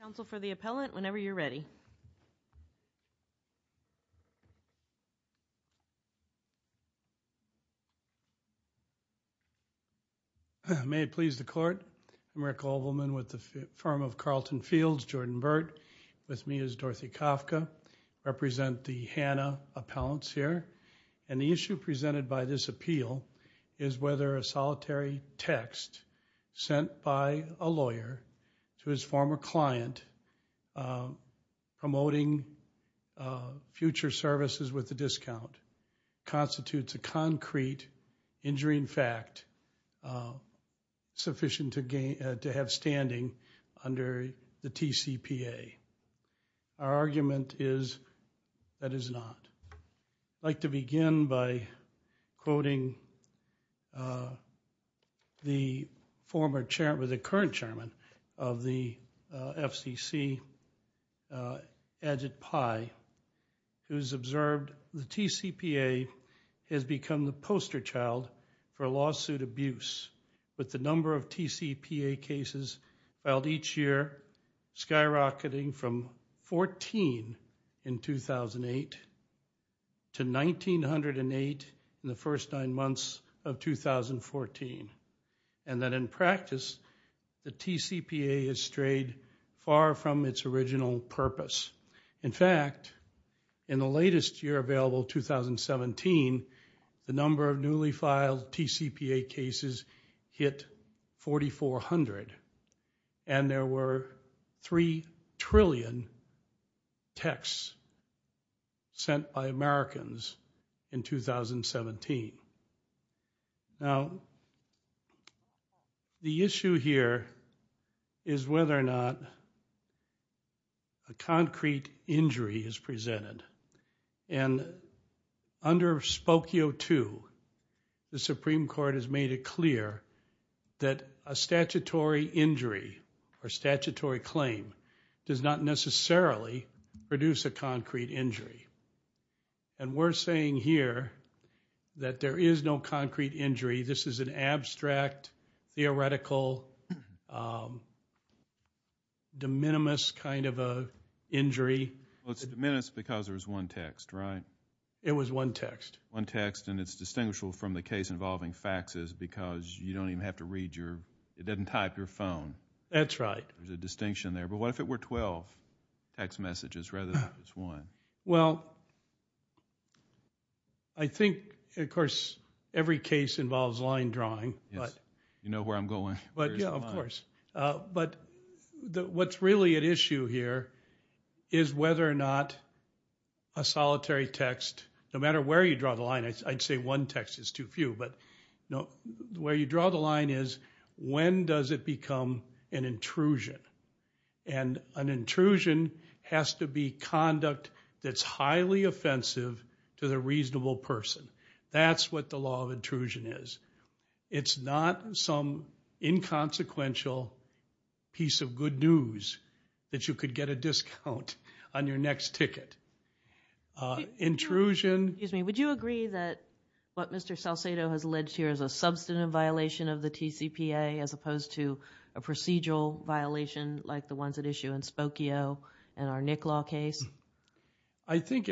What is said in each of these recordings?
Council for the appellant, whenever you're ready. May it please the court, I'm Rick Obelman with the firm of Carlton Fields, Jordan Burt, with me is Dorothy Kafka, I represent the Hannah appellants here, and the issue presented by this appeal is whether a solitary text sent by a lawyer to his former client promoting future services with a discount constitutes a concrete, injuring fact sufficient to have standing under the TCPA. Our argument is that is not. I'd like to begin by quoting the current chairman of the FCC, Ajit Pai, who's observed the TCPA has become the poster child for lawsuit abuse with the number of TCPA cases filed each year skyrocketing from 14 in 2008 to 1,908 in the first nine months of 2014. And that in practice, the TCPA has strayed far from its original purpose. In fact, in the latest year available, 2017, the number of newly filed TCPA cases hit 4,400. And there were 3 trillion texts sent by Americans in 2017. Now, the issue here is whether or not a concrete injury is presented. And under Spokio II, the Supreme Court has made it clear that a statutory injury or statutory claim does not necessarily produce a concrete injury. And we're saying here that there is no concrete injury. This is an abstract, theoretical, de minimis kind of a injury. Well, it's de minimis because there was one text, right? It was one text. One text. And it's distinguishable from the case involving faxes, because you don't even have to read your, it doesn't type your phone. That's right. There's a distinction there. But what if it were 12 text messages rather than just one? Well, I think, of course, every case involves line drawing. You know where I'm going. But yeah, of course. But what's really at issue here is whether or not a solitary text, no matter where you draw the line, I'd say one text is too few. But where you draw the line is, when does it become an intrusion? And an intrusion has to be conduct that's highly offensive to the reasonable person. That's what the law of intrusion is. It's not some inconsequential piece of good news that you could get a discount on your next ticket. Intrusion. Excuse me, would you agree that what Mr. Salcedo has alleged here is a substantive violation of the TCPA as opposed to a procedural violation like the ones at issue in Spokio and our Nick Law case? I think,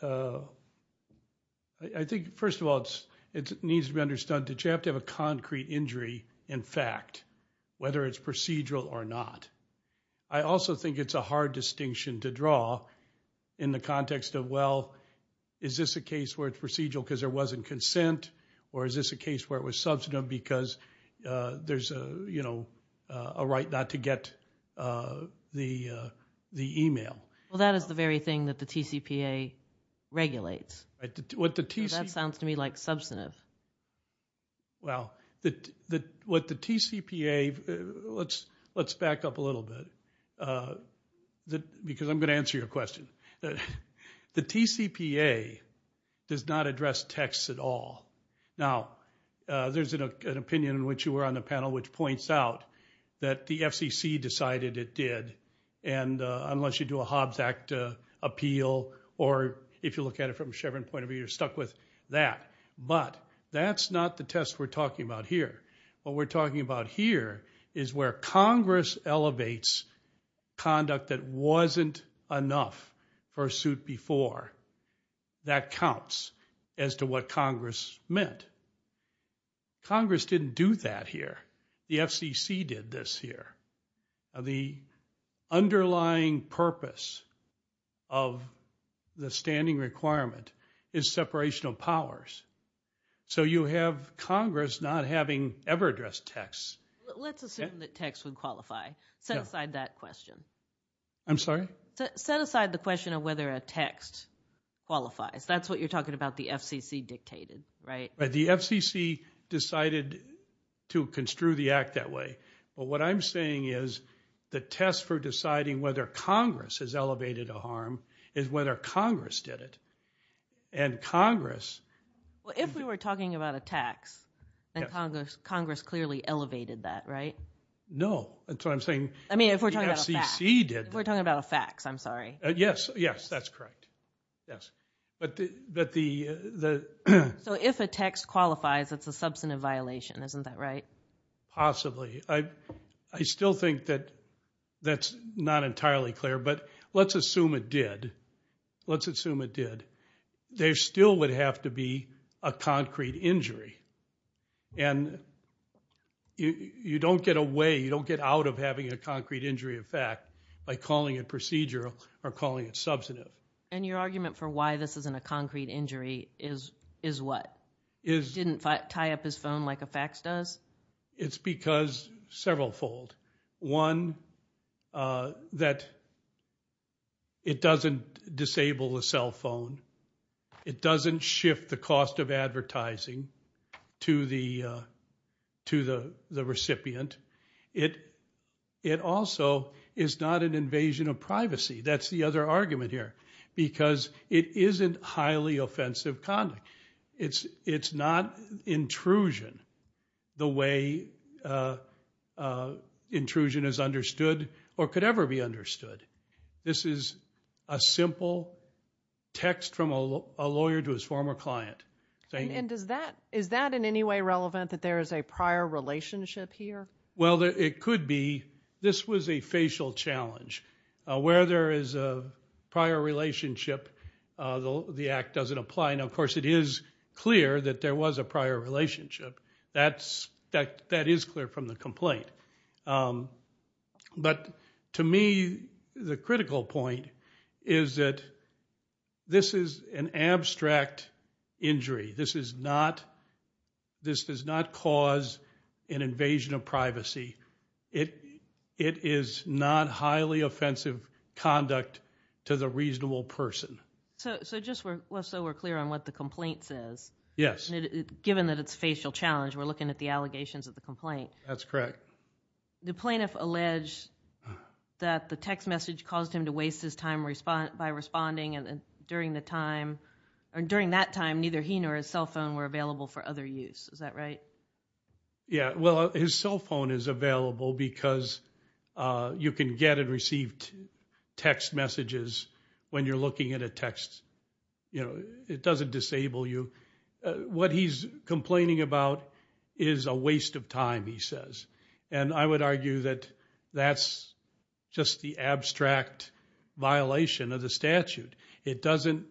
first of all, it needs to be understood. Did you have to have a concrete injury in fact, whether it's procedural or not? I also think it's a hard distinction to draw in the context of, well, is this a case where it's procedural because there wasn't consent? Or is this a case where it was substantive because there's a right not to get the email? Well, that is the very thing that the TCPA regulates. What the TCPA? That sounds to me like substantive. Well, what the TCPA, let's back up a little bit because I'm going to answer your question. The TCPA does not address texts at all. Now, there's an opinion in which you were on the panel which points out that the FCC decided it did and unless you do a Hobbs Act appeal or if you look at it from a Chevron point of view, you're stuck with that. But that's not the test we're talking about here. What we're talking about here is where Congress elevates conduct that wasn't enough for a suit before. That counts as to what Congress meant. Congress didn't do that here. The FCC did this here. The underlying purpose of the standing requirement is separation of powers. So you have Congress not having ever addressed texts. Let's assume that texts would qualify. Set aside that question. I'm sorry? Set aside the question of whether a text qualifies. That's what you're talking about the FCC dictated, right? The FCC decided to construe the act that way. But what I'm saying is the test for deciding whether Congress has elevated a harm is whether Congress did it. And Congress... Well, if we were talking about a tax, Congress clearly elevated that, right? No. That's what I'm saying. I mean, if we're talking about a fax, I'm sorry. Yes, yes, that's correct. Yes. But the... So if a text qualifies, it's a substantive violation, isn't that right? Possibly. I still think that that's not entirely clear, but let's assume it did. Let's assume it did. There still would have to be a concrete injury. And you don't get away, you don't get out of having a concrete injury of fact by calling it procedural or calling it substantive. And your argument for why this isn't a concrete injury is what? It didn't tie up his phone like a fax does? It's because several fold. One, that it doesn't disable the cell phone. It doesn't shift the cost of advertising to the recipient. It also is not an invasion of privacy. That's the other argument here. Because it isn't highly offensive conduct. It's not intrusion the way intrusion is understood or could ever be understood. This is a simple text from a lawyer to his former client. And is that in any way relevant that there is a prior relationship here? Well, it could be. This was a facial challenge. Where there is a prior relationship, the act doesn't apply. Now, of course, it is clear that there was a prior relationship. That is clear from the complaint. But to me, the critical point is that this is an abstract injury. This is not, this does not cause an invasion of privacy. It is not highly offensive conduct to the reasonable person. So just so we're clear on what the complaint says. Yes. Given that it's a facial challenge, we're looking at the allegations of the complaint. That's correct. The plaintiff alleged that the text message caused him to waste his time by responding. And during that time, neither he nor his cell phone were available for other use. Is that right? Yeah, well, his cell phone is available because you can get and receive text messages when you're looking at a text. It doesn't disable you. What he's complaining about is a waste of time, he says. And I would argue that that's just the abstract violation of the statute. It doesn't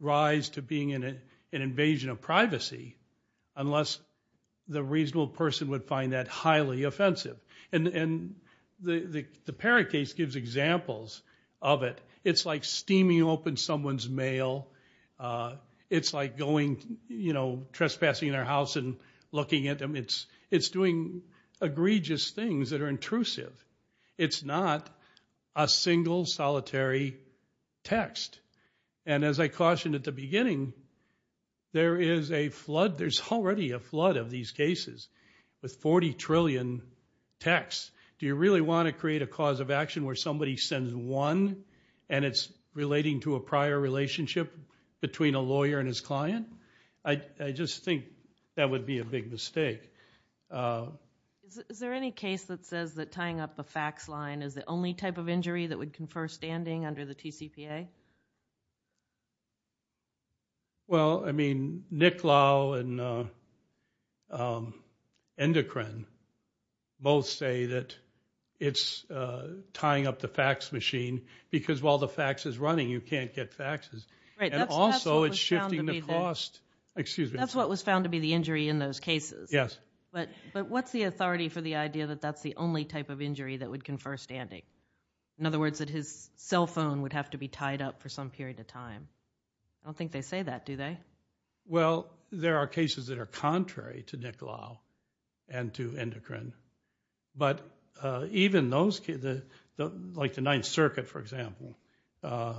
rise to being an invasion of privacy unless the reasonable person would find that highly offensive. And the Parakase gives examples of it. It's like steaming open someone's mail. It's like trespassing in their house and looking at them. It's doing egregious things that are intrusive. It's not a single solitary text. And as I cautioned at the beginning, there is a flood, there's already a flood of these cases with 40 trillion texts. Do you really want to create a cause of action where somebody sends one and it's relating to a prior relationship between a lawyer and his client? I just think that would be a big mistake. Is there any case that says that tying up a fax line is the only type of injury that would confer standing under the TCPA? Well, I mean, Nick Lau and Endocrine both say that it's tying up the fax machine. Because while the fax is running, you can't get faxes. And also, it's shifting the cost. Excuse me. That's what was found to be the injury in those cases. Yes. But what's the authority for the idea that that's the only type of injury that would confer standing? In other words, that his cell phone would have to be tied up for some period of time. I don't think they say that, do they? Well, there are cases that are contrary to Nick Lau and to Endocrine. But even those, like the Ninth Circuit, for example. I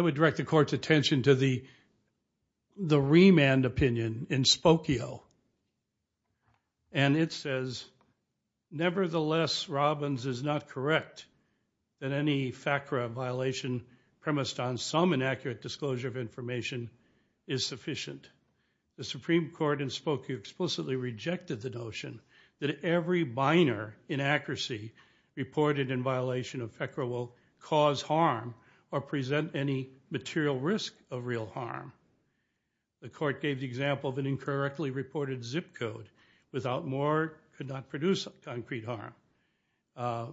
would direct the court's attention to the remand opinion in Spokio, and it says, nevertheless, Robbins is not correct. That any FACRA violation premised on some inaccurate disclosure of information is sufficient. The Supreme Court in Spokio explicitly rejected the notion that every minor inaccuracy reported in violation of FACRA will cause harm or present any material risk of real harm. The court gave the example of an incorrectly reported zip code. Without more, could not produce concrete harm.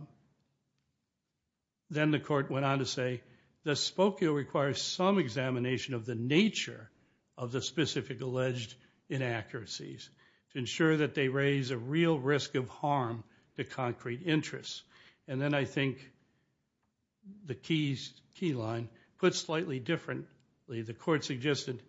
Then the court went on to say, the Spokio requires some examination of the nature of the specific alleged inaccuracies to ensure that they raise a real risk of harm to concrete interests. And then I think the key line, put slightly differently, the court suggested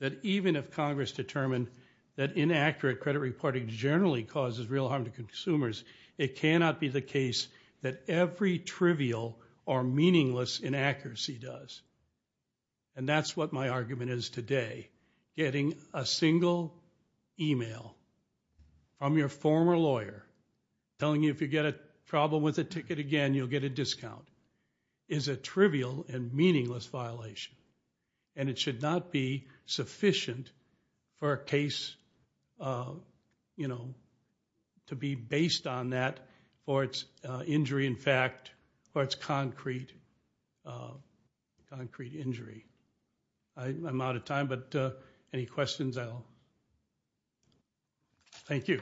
that even if Congress determined that inaccurate credit reporting generally causes real harm to consumers, it cannot be the case that every trivial or meaningless inaccuracy does. And that's what my argument is today. Getting a single email from your former lawyer telling you if you get a problem with a ticket again, you'll get a discount, is a trivial and it should not be sufficient for a case to be based on that. Or it's injury, in fact, or it's concrete injury. I'm out of time, but any questions, I'll, thank you.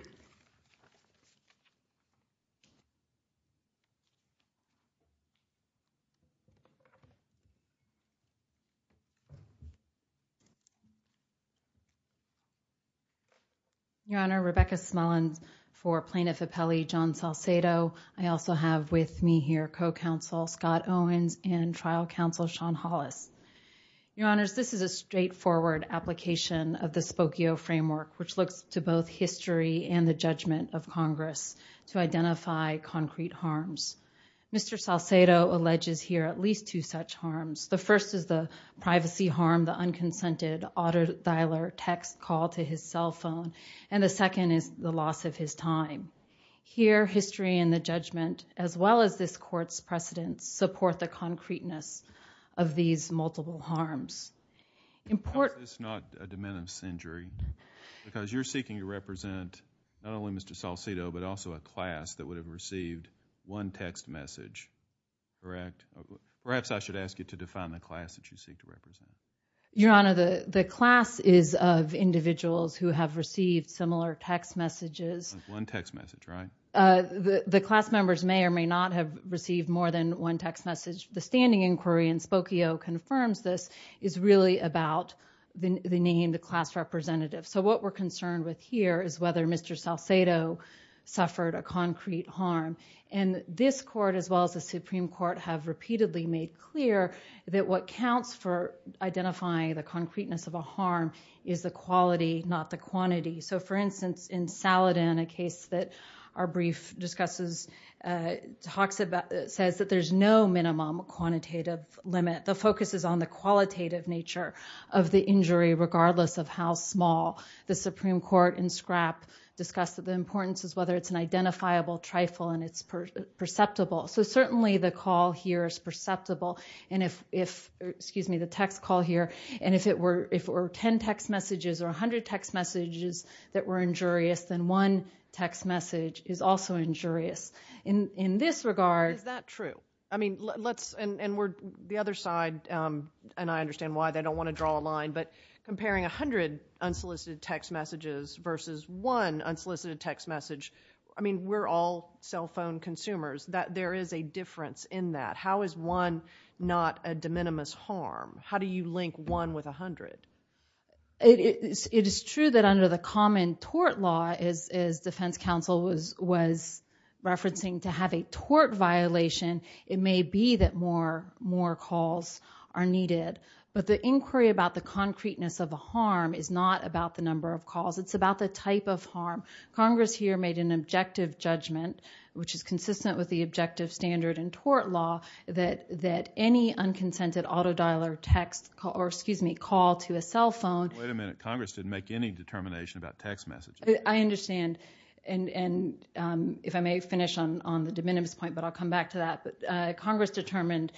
Your Honor, Rebecca Smullins for Plaintiff Appellee John Salcedo. I also have with me here co-counsel Scott Owens and trial counsel Sean Hollis. Your Honors, this is a straightforward application of the Spokio framework, which looks to both history and the judgment of Congress to identify concrete harms. Mr. Salcedo alleges here at least two such harms. The first is the privacy harm, the unconsented auto-dialer text call to his cell phone. And the second is the loss of his time. Here, history and the judgment, as well as this court's precedence, support the concreteness of these multiple harms. Important- Is this not a dementor's injury? Because you're seeking to represent not only Mr. Salcedo, but also a class that would have received one text message, correct? Perhaps I should ask you to define the class that you seek to represent. Your Honor, the class is of individuals who have received similar text messages. One text message, right? The class members may or may not have received more than one text message. The standing inquiry in Spokio confirms this, is really about the name, the class representative. So what we're concerned with here is whether Mr. Salcedo suffered a concrete harm. And this court, as well as the Supreme Court, have repeatedly made clear that what counts for identifying the concreteness of a harm is the quality, not the quantity. So for instance, in Saladin, a case that our brief discusses, talks about, says that there's no minimum quantitative limit. The focus is on the qualitative nature of the injury, regardless of how small. The Supreme Court in Scrapp discussed that the importance is whether it's an identifiable trifle and it's perceptible. So certainly the call here is perceptible. And if, excuse me, the text call here. And if it were 10 text messages or 100 text messages that were injurious, then one text message is also injurious. In this regard- Is that true? I mean, let's, and we're, the other side, and I understand why they don't wanna draw a line, but comparing 100 unsolicited text messages versus one unsolicited text message, I mean, we're all cell phone consumers, that there is a difference in that. How is one not a de minimis harm? How do you link one with 100? It is true that under the common tort law, as defense counsel was referencing, to have a tort violation, it may be that more calls are needed. But the inquiry about the concreteness of the harm is not about the number of calls, it's about the type of harm. Congress here made an objective judgment, which is consistent with the objective standard in tort law, that any unconsented auto dialer text, or excuse me, call to a cell phone- Wait a minute, Congress didn't make any determination about text messages. I understand, and if I may finish on the de minimis point, but I'll come back to that, but Congress determined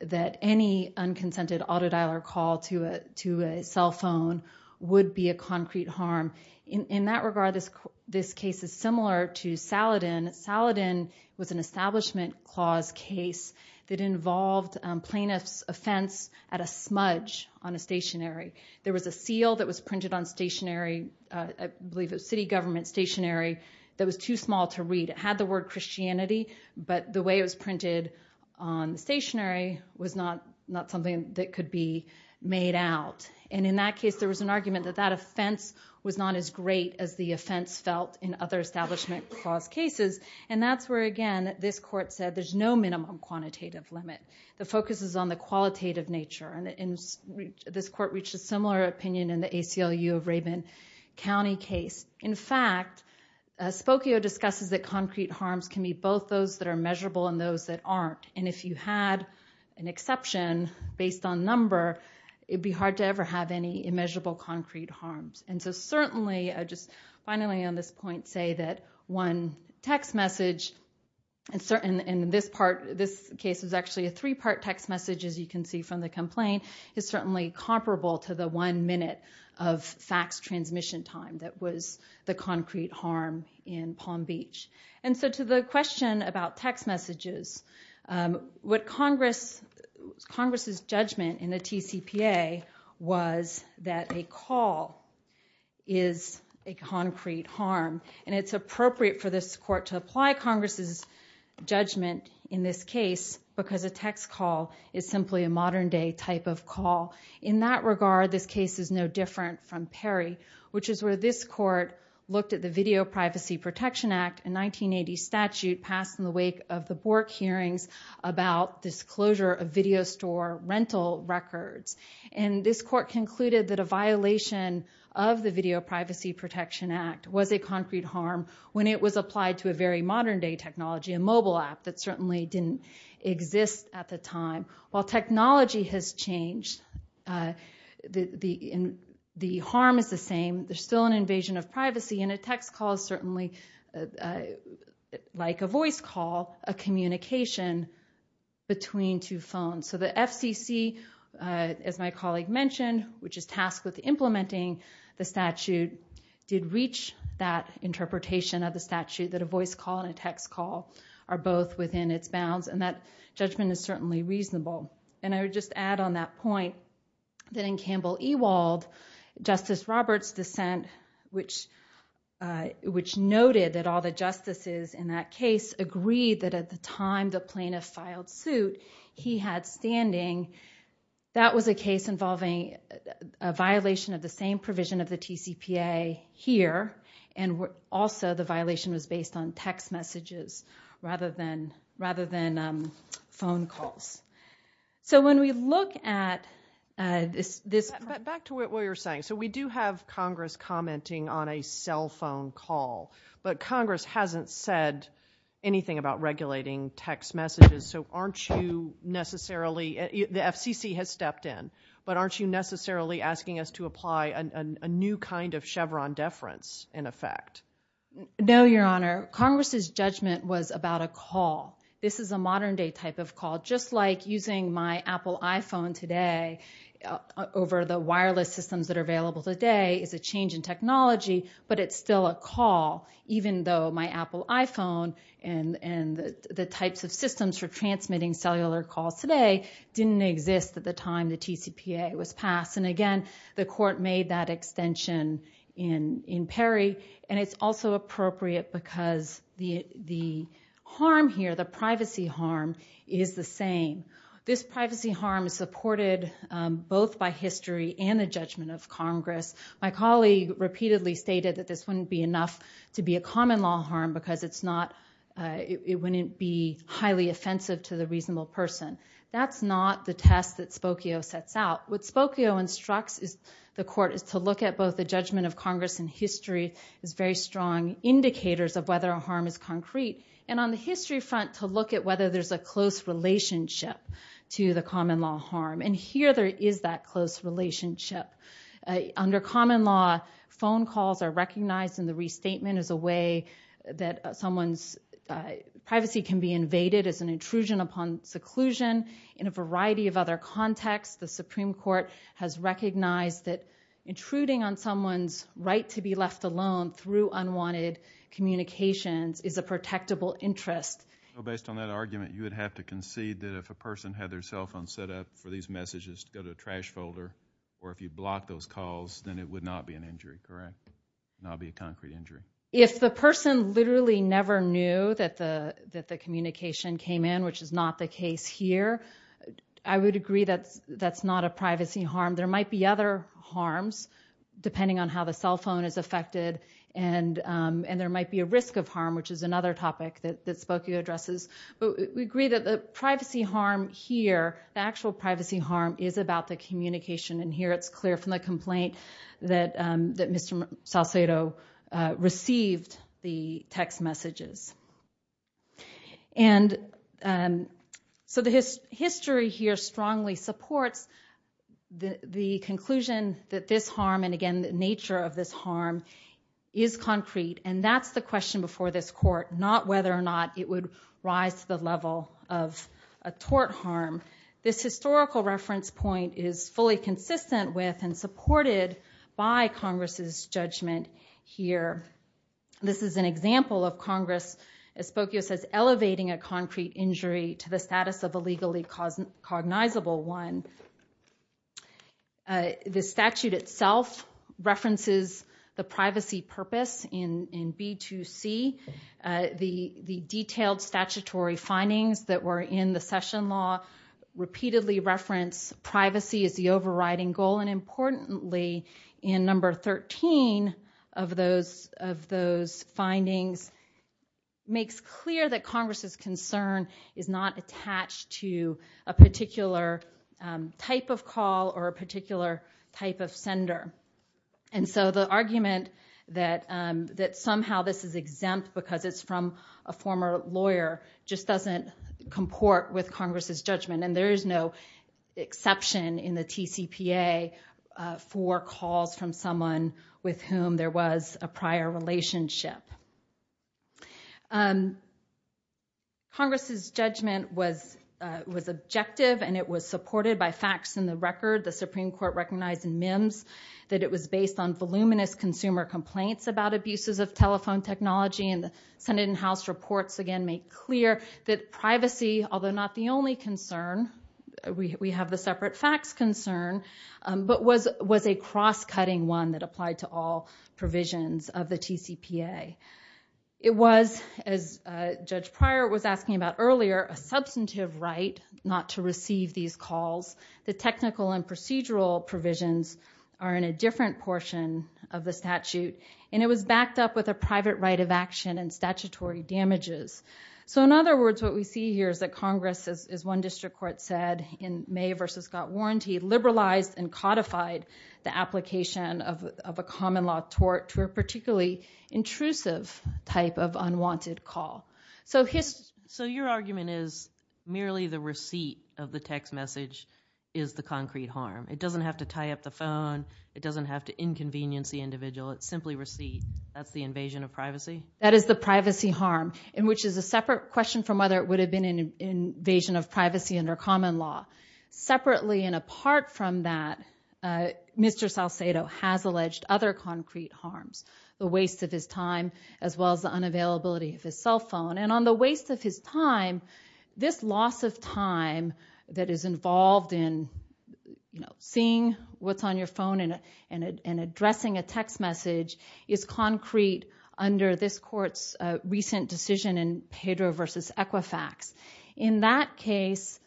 that any unconsented auto dialer call to a cell phone would be a concrete harm. In that regard, this case is similar to Saladin. Saladin was an establishment clause case that involved plaintiff's offense at a smudge on a stationary. There was a seal that was printed on stationary, I believe it was city government stationary, that was too small to read. It had the word Christianity, but the way it was printed on stationary was not something that could be made out. And in that case, there was an argument that that offense was not as great as the offense felt in other establishment clause cases. And that's where, again, this court said there's no minimum quantitative limit. The focus is on the qualitative nature, and this court reached a similar opinion in the ACLU of Rabin County case. In fact, Spokio discusses that concrete harms can be both those that are measurable and those that aren't. And if you had an exception based on number, it'd be hard to ever have any immeasurable concrete harms. And so certainly, just finally on this point, say that one text message. And this case is actually a three-part text message, as you can see from the complaint. It's certainly comparable to the one minute of fax transmission time that was the concrete harm in Palm Beach. And so to the question about text messages, what Congress's judgment in the TCPA was that a call is a concrete harm. And it's appropriate for this court to apply Congress's judgment in this case because a text call is simply a modern day type of call. In that regard, this case is no different from Perry, which is where this court looked at the Video Privacy Protection Act and the 1980 statute passed in the wake of the Bork hearings about disclosure of video store rental records. And this court concluded that a violation of the Video Privacy Protection Act was a concrete harm when it was applied to a very modern day technology, a mobile app that certainly didn't exist at the time. While technology has changed, the harm is the same. There's still an invasion of privacy and a text call is certainly like a voice call, a communication between two phones. So the FCC, as my colleague mentioned, which is tasked with implementing the statute, did reach that interpretation of the statute that a voice call and a text call are both within its bounds. And that judgment is certainly reasonable. And I would just add on that point that in Campbell Ewald, Justice Roberts' dissent, which noted that all the justices in that case agreed that at the time the plaintiff filed suit, he had standing. That was a case involving a violation of the same provision of the TCPA here, and also the violation was based on text messages rather than phone calls. So when we look at this- Back to what you're saying. So we do have Congress commenting on a cell phone call, but Congress hasn't said anything about regulating text messages. So aren't you necessarily, the FCC has stepped in, but aren't you necessarily asking us to apply a new kind of Chevron deference in effect? No, Your Honor. Congress's judgment was about a call. This is a modern day type of call, just like using my Apple iPhone today over the wireless systems that are available today is a change in technology, but it's still a call. Even though my Apple iPhone and the types of systems for transmitting cellular calls today didn't exist at the time the TCPA was passed. And again, the court made that extension in Perry. And it's also appropriate because the harm here, the privacy harm, is the same. This privacy harm is supported both by history and the judgment of Congress. My colleague repeatedly stated that this wouldn't be enough to be a common law harm because it wouldn't be highly offensive to the reasonable person. That's not the test that Spokio sets out. What Spokio instructs the court is to look at both the judgment of Congress in history as very strong indicators of whether a harm is concrete. And on the history front, to look at whether there's a close relationship to the common law harm. And here there is that close relationship. Under common law, phone calls are recognized in the restatement as a way that someone's privacy can be invaded as an intrusion upon seclusion. In a variety of other contexts, the Supreme Court has recognized that intruding on someone's right to be left alone through unwanted communications is a protectable interest. Based on that argument, you would have to concede that if a person had their cell phone set up for these messages to go to a trash folder, or if you blocked those calls, then it would not be an injury, correct? Not be a concrete injury. If the person literally never knew that the communication came in, which is not the case here, I would agree that that's not a privacy harm. There might be other harms, depending on how the cell phone is affected. And there might be a risk of harm, which is another topic that Spokio addresses. But we agree that the privacy harm here, the actual privacy harm is about the communication. And here it's clear from the complaint that Mr. Salcedo received the text messages. And so the history here strongly supports the conclusion that this harm, and again, the nature of this harm is concrete. And that's the question before this court, not whether or not it would rise to the level of a tort harm. This historical reference point is fully consistent with and supported by Congress's judgment here. This is an example of Congress, as Spokio says, elevating a concrete injury to the status of a legally cognizable one. The statute itself references the privacy purpose in B2C. The detailed statutory findings that were in the session law repeatedly reference privacy as the overriding goal. And importantly, in number 13 of those findings, makes clear that Congress's concern is not attached to a particular type of call or a particular type of sender. And so the argument that somehow this is exempt because it's from a former lawyer just doesn't comport with Congress's judgment. And there is no exception in the TCPA for calls from someone with whom there was a prior relationship. Congress's judgment was objective and it was supported by facts in the record. The Supreme Court recognized in MIMS that it was based on voluminous consumer complaints about abuses of telephone technology. And the Senate and House reports again make clear that privacy, although not the only concern, we have the separate facts concern, but was a cross-cutting one that applied to all provisions of the TCPA. It was, as Judge Pryor was asking about earlier, a substantive right not to receive these calls. The technical and procedural provisions are in a different portion of the statute. And it was backed up with a private right of action and statutory damages. So in other words, what we see here is that Congress, as one district court said in May versus Scott Warranty, liberalized and codified the application of a common law tort to a particularly intrusive type of unwanted call. So his- So your argument is merely the receipt of the text message is the concrete harm. It doesn't have to tie up the phone. It doesn't have to inconvenience the individual. It's simply receipt. That's the invasion of privacy? That is the privacy harm, in which is a separate question from whether it would have been an invasion of privacy under common law. Separately and apart from that, Mr. Salcedo has alleged other concrete harms. The waste of his time, as well as the unavailability of his cell phone. And on the waste of his time, this loss of time that is involved in seeing what's on your phone and addressing a text message is concrete under this court's recent decision in Pedro versus Equifax. In that case,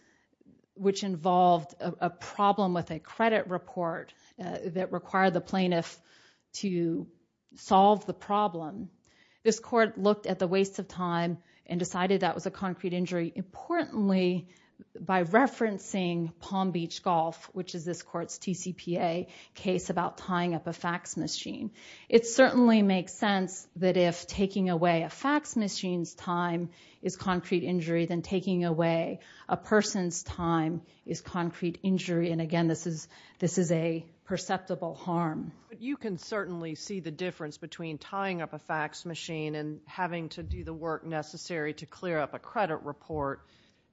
which involved a problem with a credit report that required the plaintiff to solve the problem, this court looked at the waste of time and decided that was a concrete injury. Importantly, by referencing Palm Beach Golf, which is this court's TCPA case about tying up a fax machine. It certainly makes sense that if taking away a fax machine's time is concrete injury, then taking away a person's time is concrete injury. And again, this is a perceptible harm. You can certainly see the difference between tying up a fax machine and having to do the work necessary to clear up a credit report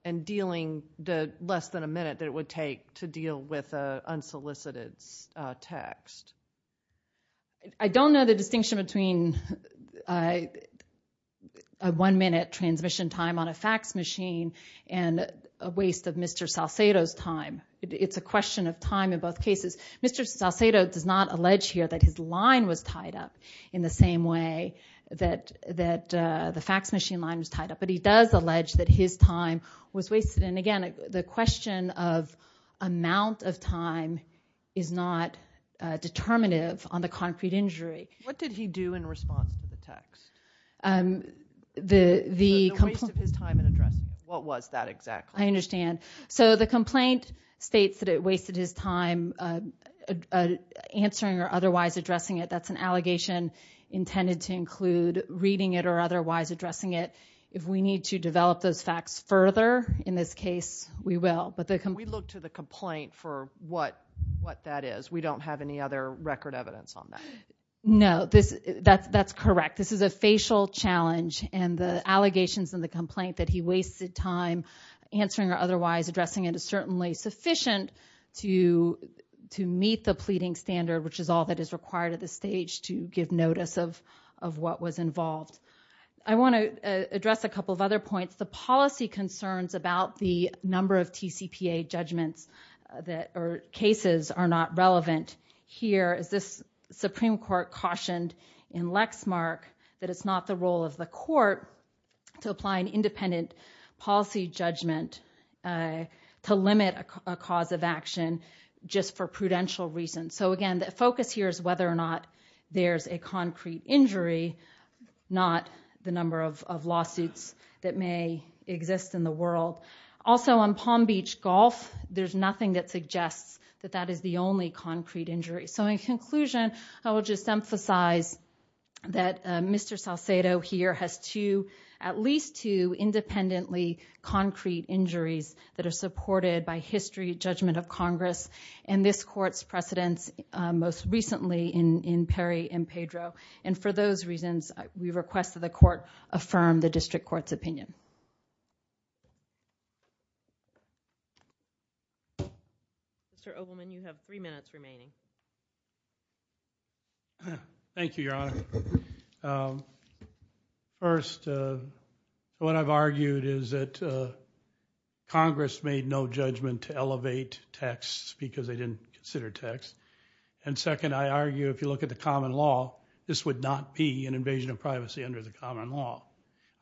and dealing the less than a minute that it would take to deal with unsolicited text. I don't know the distinction between a one minute transmission time on a fax machine and a waste of Mr. Salcedo's time. It's a question of time in both cases. Mr. Salcedo does not allege here that his line was tied up in the same way that the fax machine line was tied up. But he does allege that his time was wasted. What did he do in response to the text? The waste of his time in addressing it. What was that exactly? I understand. So the complaint states that it wasted his time answering or otherwise addressing it. That's an allegation intended to include reading it or otherwise addressing it. If we need to develop those facts further in this case, we will. We look to the complaint for what that is. We don't have any other record evidence on that. No. That's correct. This is a facial challenge. And the allegations in the complaint that he wasted time answering or otherwise addressing it is certainly sufficient to meet the pleading standard, which is all that is required at this stage to give notice of what was involved. I want to address a couple of other points. The policy concerns about the number of TCPA judgments or relevant here, as this Supreme Court cautioned in Lexmark, that it's not the role of the court to apply an independent policy judgment to limit a cause of action just for prudential reasons. So, again, the focus here is whether or not there's a concrete injury, not the number of lawsuits that may exist in the world. Also, on Palm Beach Golf, there's nothing that suggests that that is the only concrete injury. So, in conclusion, I will just emphasize that Mr. Salcedo here has two, at least two, independently concrete injuries that are supported by history judgment of Congress and this court's precedence most recently in Perry and Pedro, and for those reasons, we request that the court affirm the Mr. Ovalman, you have three minutes remaining. Thank you, Your Honor. First, what I've argued is that Congress made no judgment to elevate texts because they didn't consider texts. And second, I argue if you look at the common law, this would not be an invasion of privacy under the common law.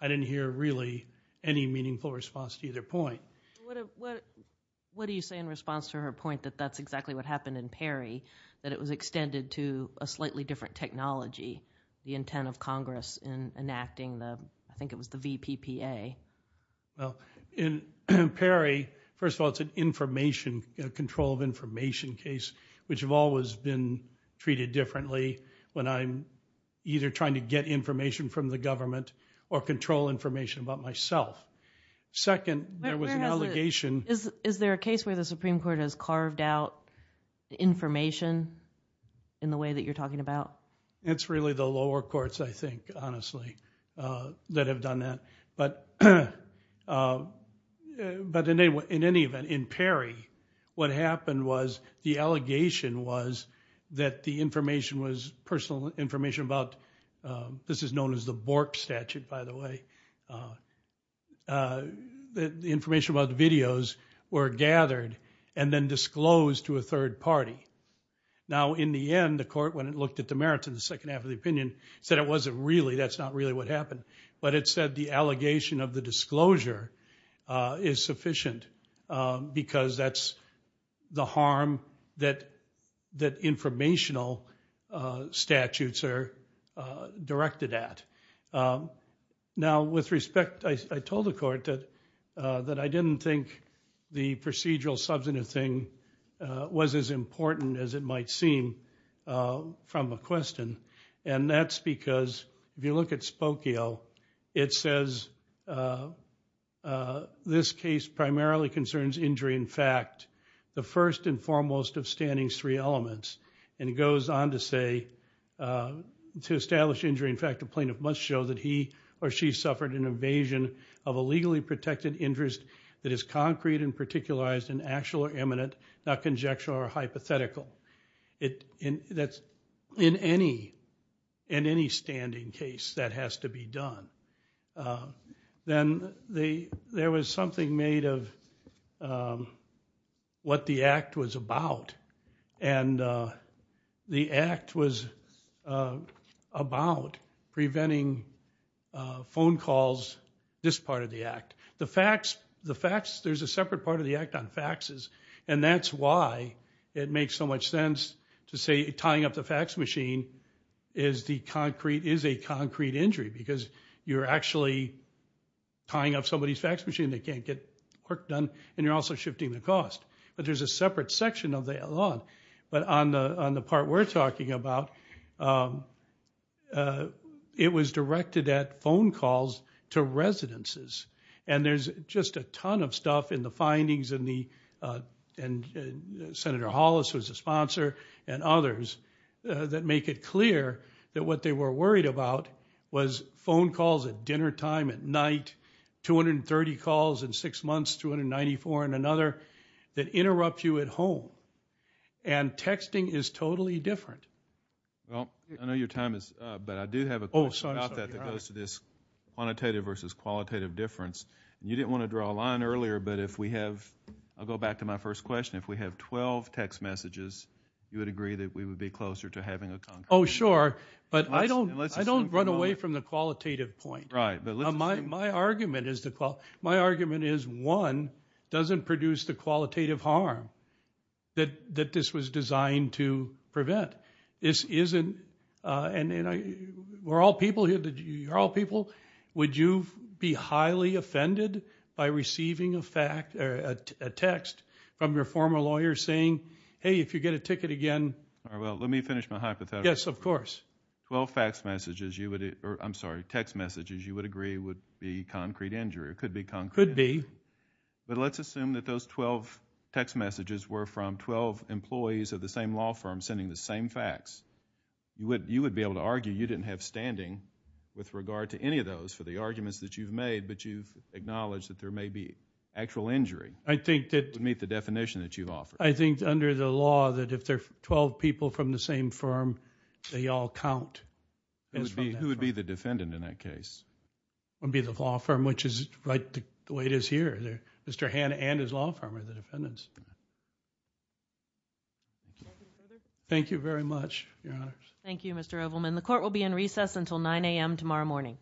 I didn't hear really any meaningful response to either point. What do you say in response to her point that that's exactly what happened in Perry, that it was extended to a slightly different technology, the intent of Congress in enacting the, I think it was the VPPA? Well, in Perry, first of all, it's an information, a control of information case, which have always been treated differently when I'm either trying to get information from the government or control information about myself. Second, there was an allegation. Is there a case where the Supreme Court has carved out information in the way that you're talking about? It's really the lower courts, I think, honestly, that have done that. But in any event, in Perry, what happened was the allegation was that the person's personal information about, this is known as the Bork statute, by the way, the information about the videos were gathered and then disclosed to a third party. Now, in the end, the court, when it looked at the merits of the second half of the opinion, said it wasn't really, that's not really what happened. But it said the allegation of the disclosure is sufficient because that's the harm that informational statutes are directed at. Now, with respect, I told the court that I didn't think the procedural substantive thing was as important as it might seem from a question, and that's because if you look at Spokio, it says this case primarily concerns injury in fact, the first and foremost of standing's three elements, and it goes on to say, to establish injury in fact, a plaintiff must show that he or she suffered an invasion of a legally protected interest that is concrete and particularized and actual or eminent, not conjectural or hypothetical. In any standing case, that has to be done. Then there was something made of what the act was about, and the act was about preventing phone calls, this part of the act. The facts, there's a separate part of the act on faxes, and that's why it makes so much sense to say tying up the fax machine is a concrete injury because you're actually tying up somebody's fax machine that can't get work done, and you're also shifting the cost. But there's a separate section of the law, but on the part we're talking about, it was directed at phone calls to residences, and there's just a ton of stuff in the findings, and Senator Hollis was a sponsor, and others, that make it clear that what they were worried about was phone calls at dinnertime, at night, 230 calls in six months, 294 in another, that interrupt you at home, and texting is totally different. I know your time is up, but I do have a question about that that goes to this quantitative versus qualitative difference. You didn't want to draw a line earlier, but if we have, I'll go back to my first question, if we have 12 text messages, you would agree that we would be closer to having a concrete difference? Oh, sure, but I don't run away from the qualitative point. My argument is one, doesn't produce the qualitative harm that this was designed to prevent. This isn't, and we're all people here, you're all people, would you be highly offended by receiving a text from your former lawyer saying, hey, if you get a ticket again... All right, well, let me finish my hypothetical. Yes, of course. Twelve text messages you would agree would be concrete injury. It could be concrete. It could be. But let's assume that those 12 text messages were from 12 employees of the same law firm sending the same facts. You would be able to argue you didn't have standing with regard to any of those for the arguments that you've made, but you've acknowledged that there may be actual injury. I think that... It would meet the definition that you've offered. I think under the law that if there are 12 people from the same firm, they all count. Who would be the defendant in that case? It would be the law firm, which is right the way it is here. Mr. Hann and his law firm are the defendants. Thank you very much, Your Honors. Thank you, Mr. Ovalman. The court will be in recess until 9 a.m. tomorrow morning.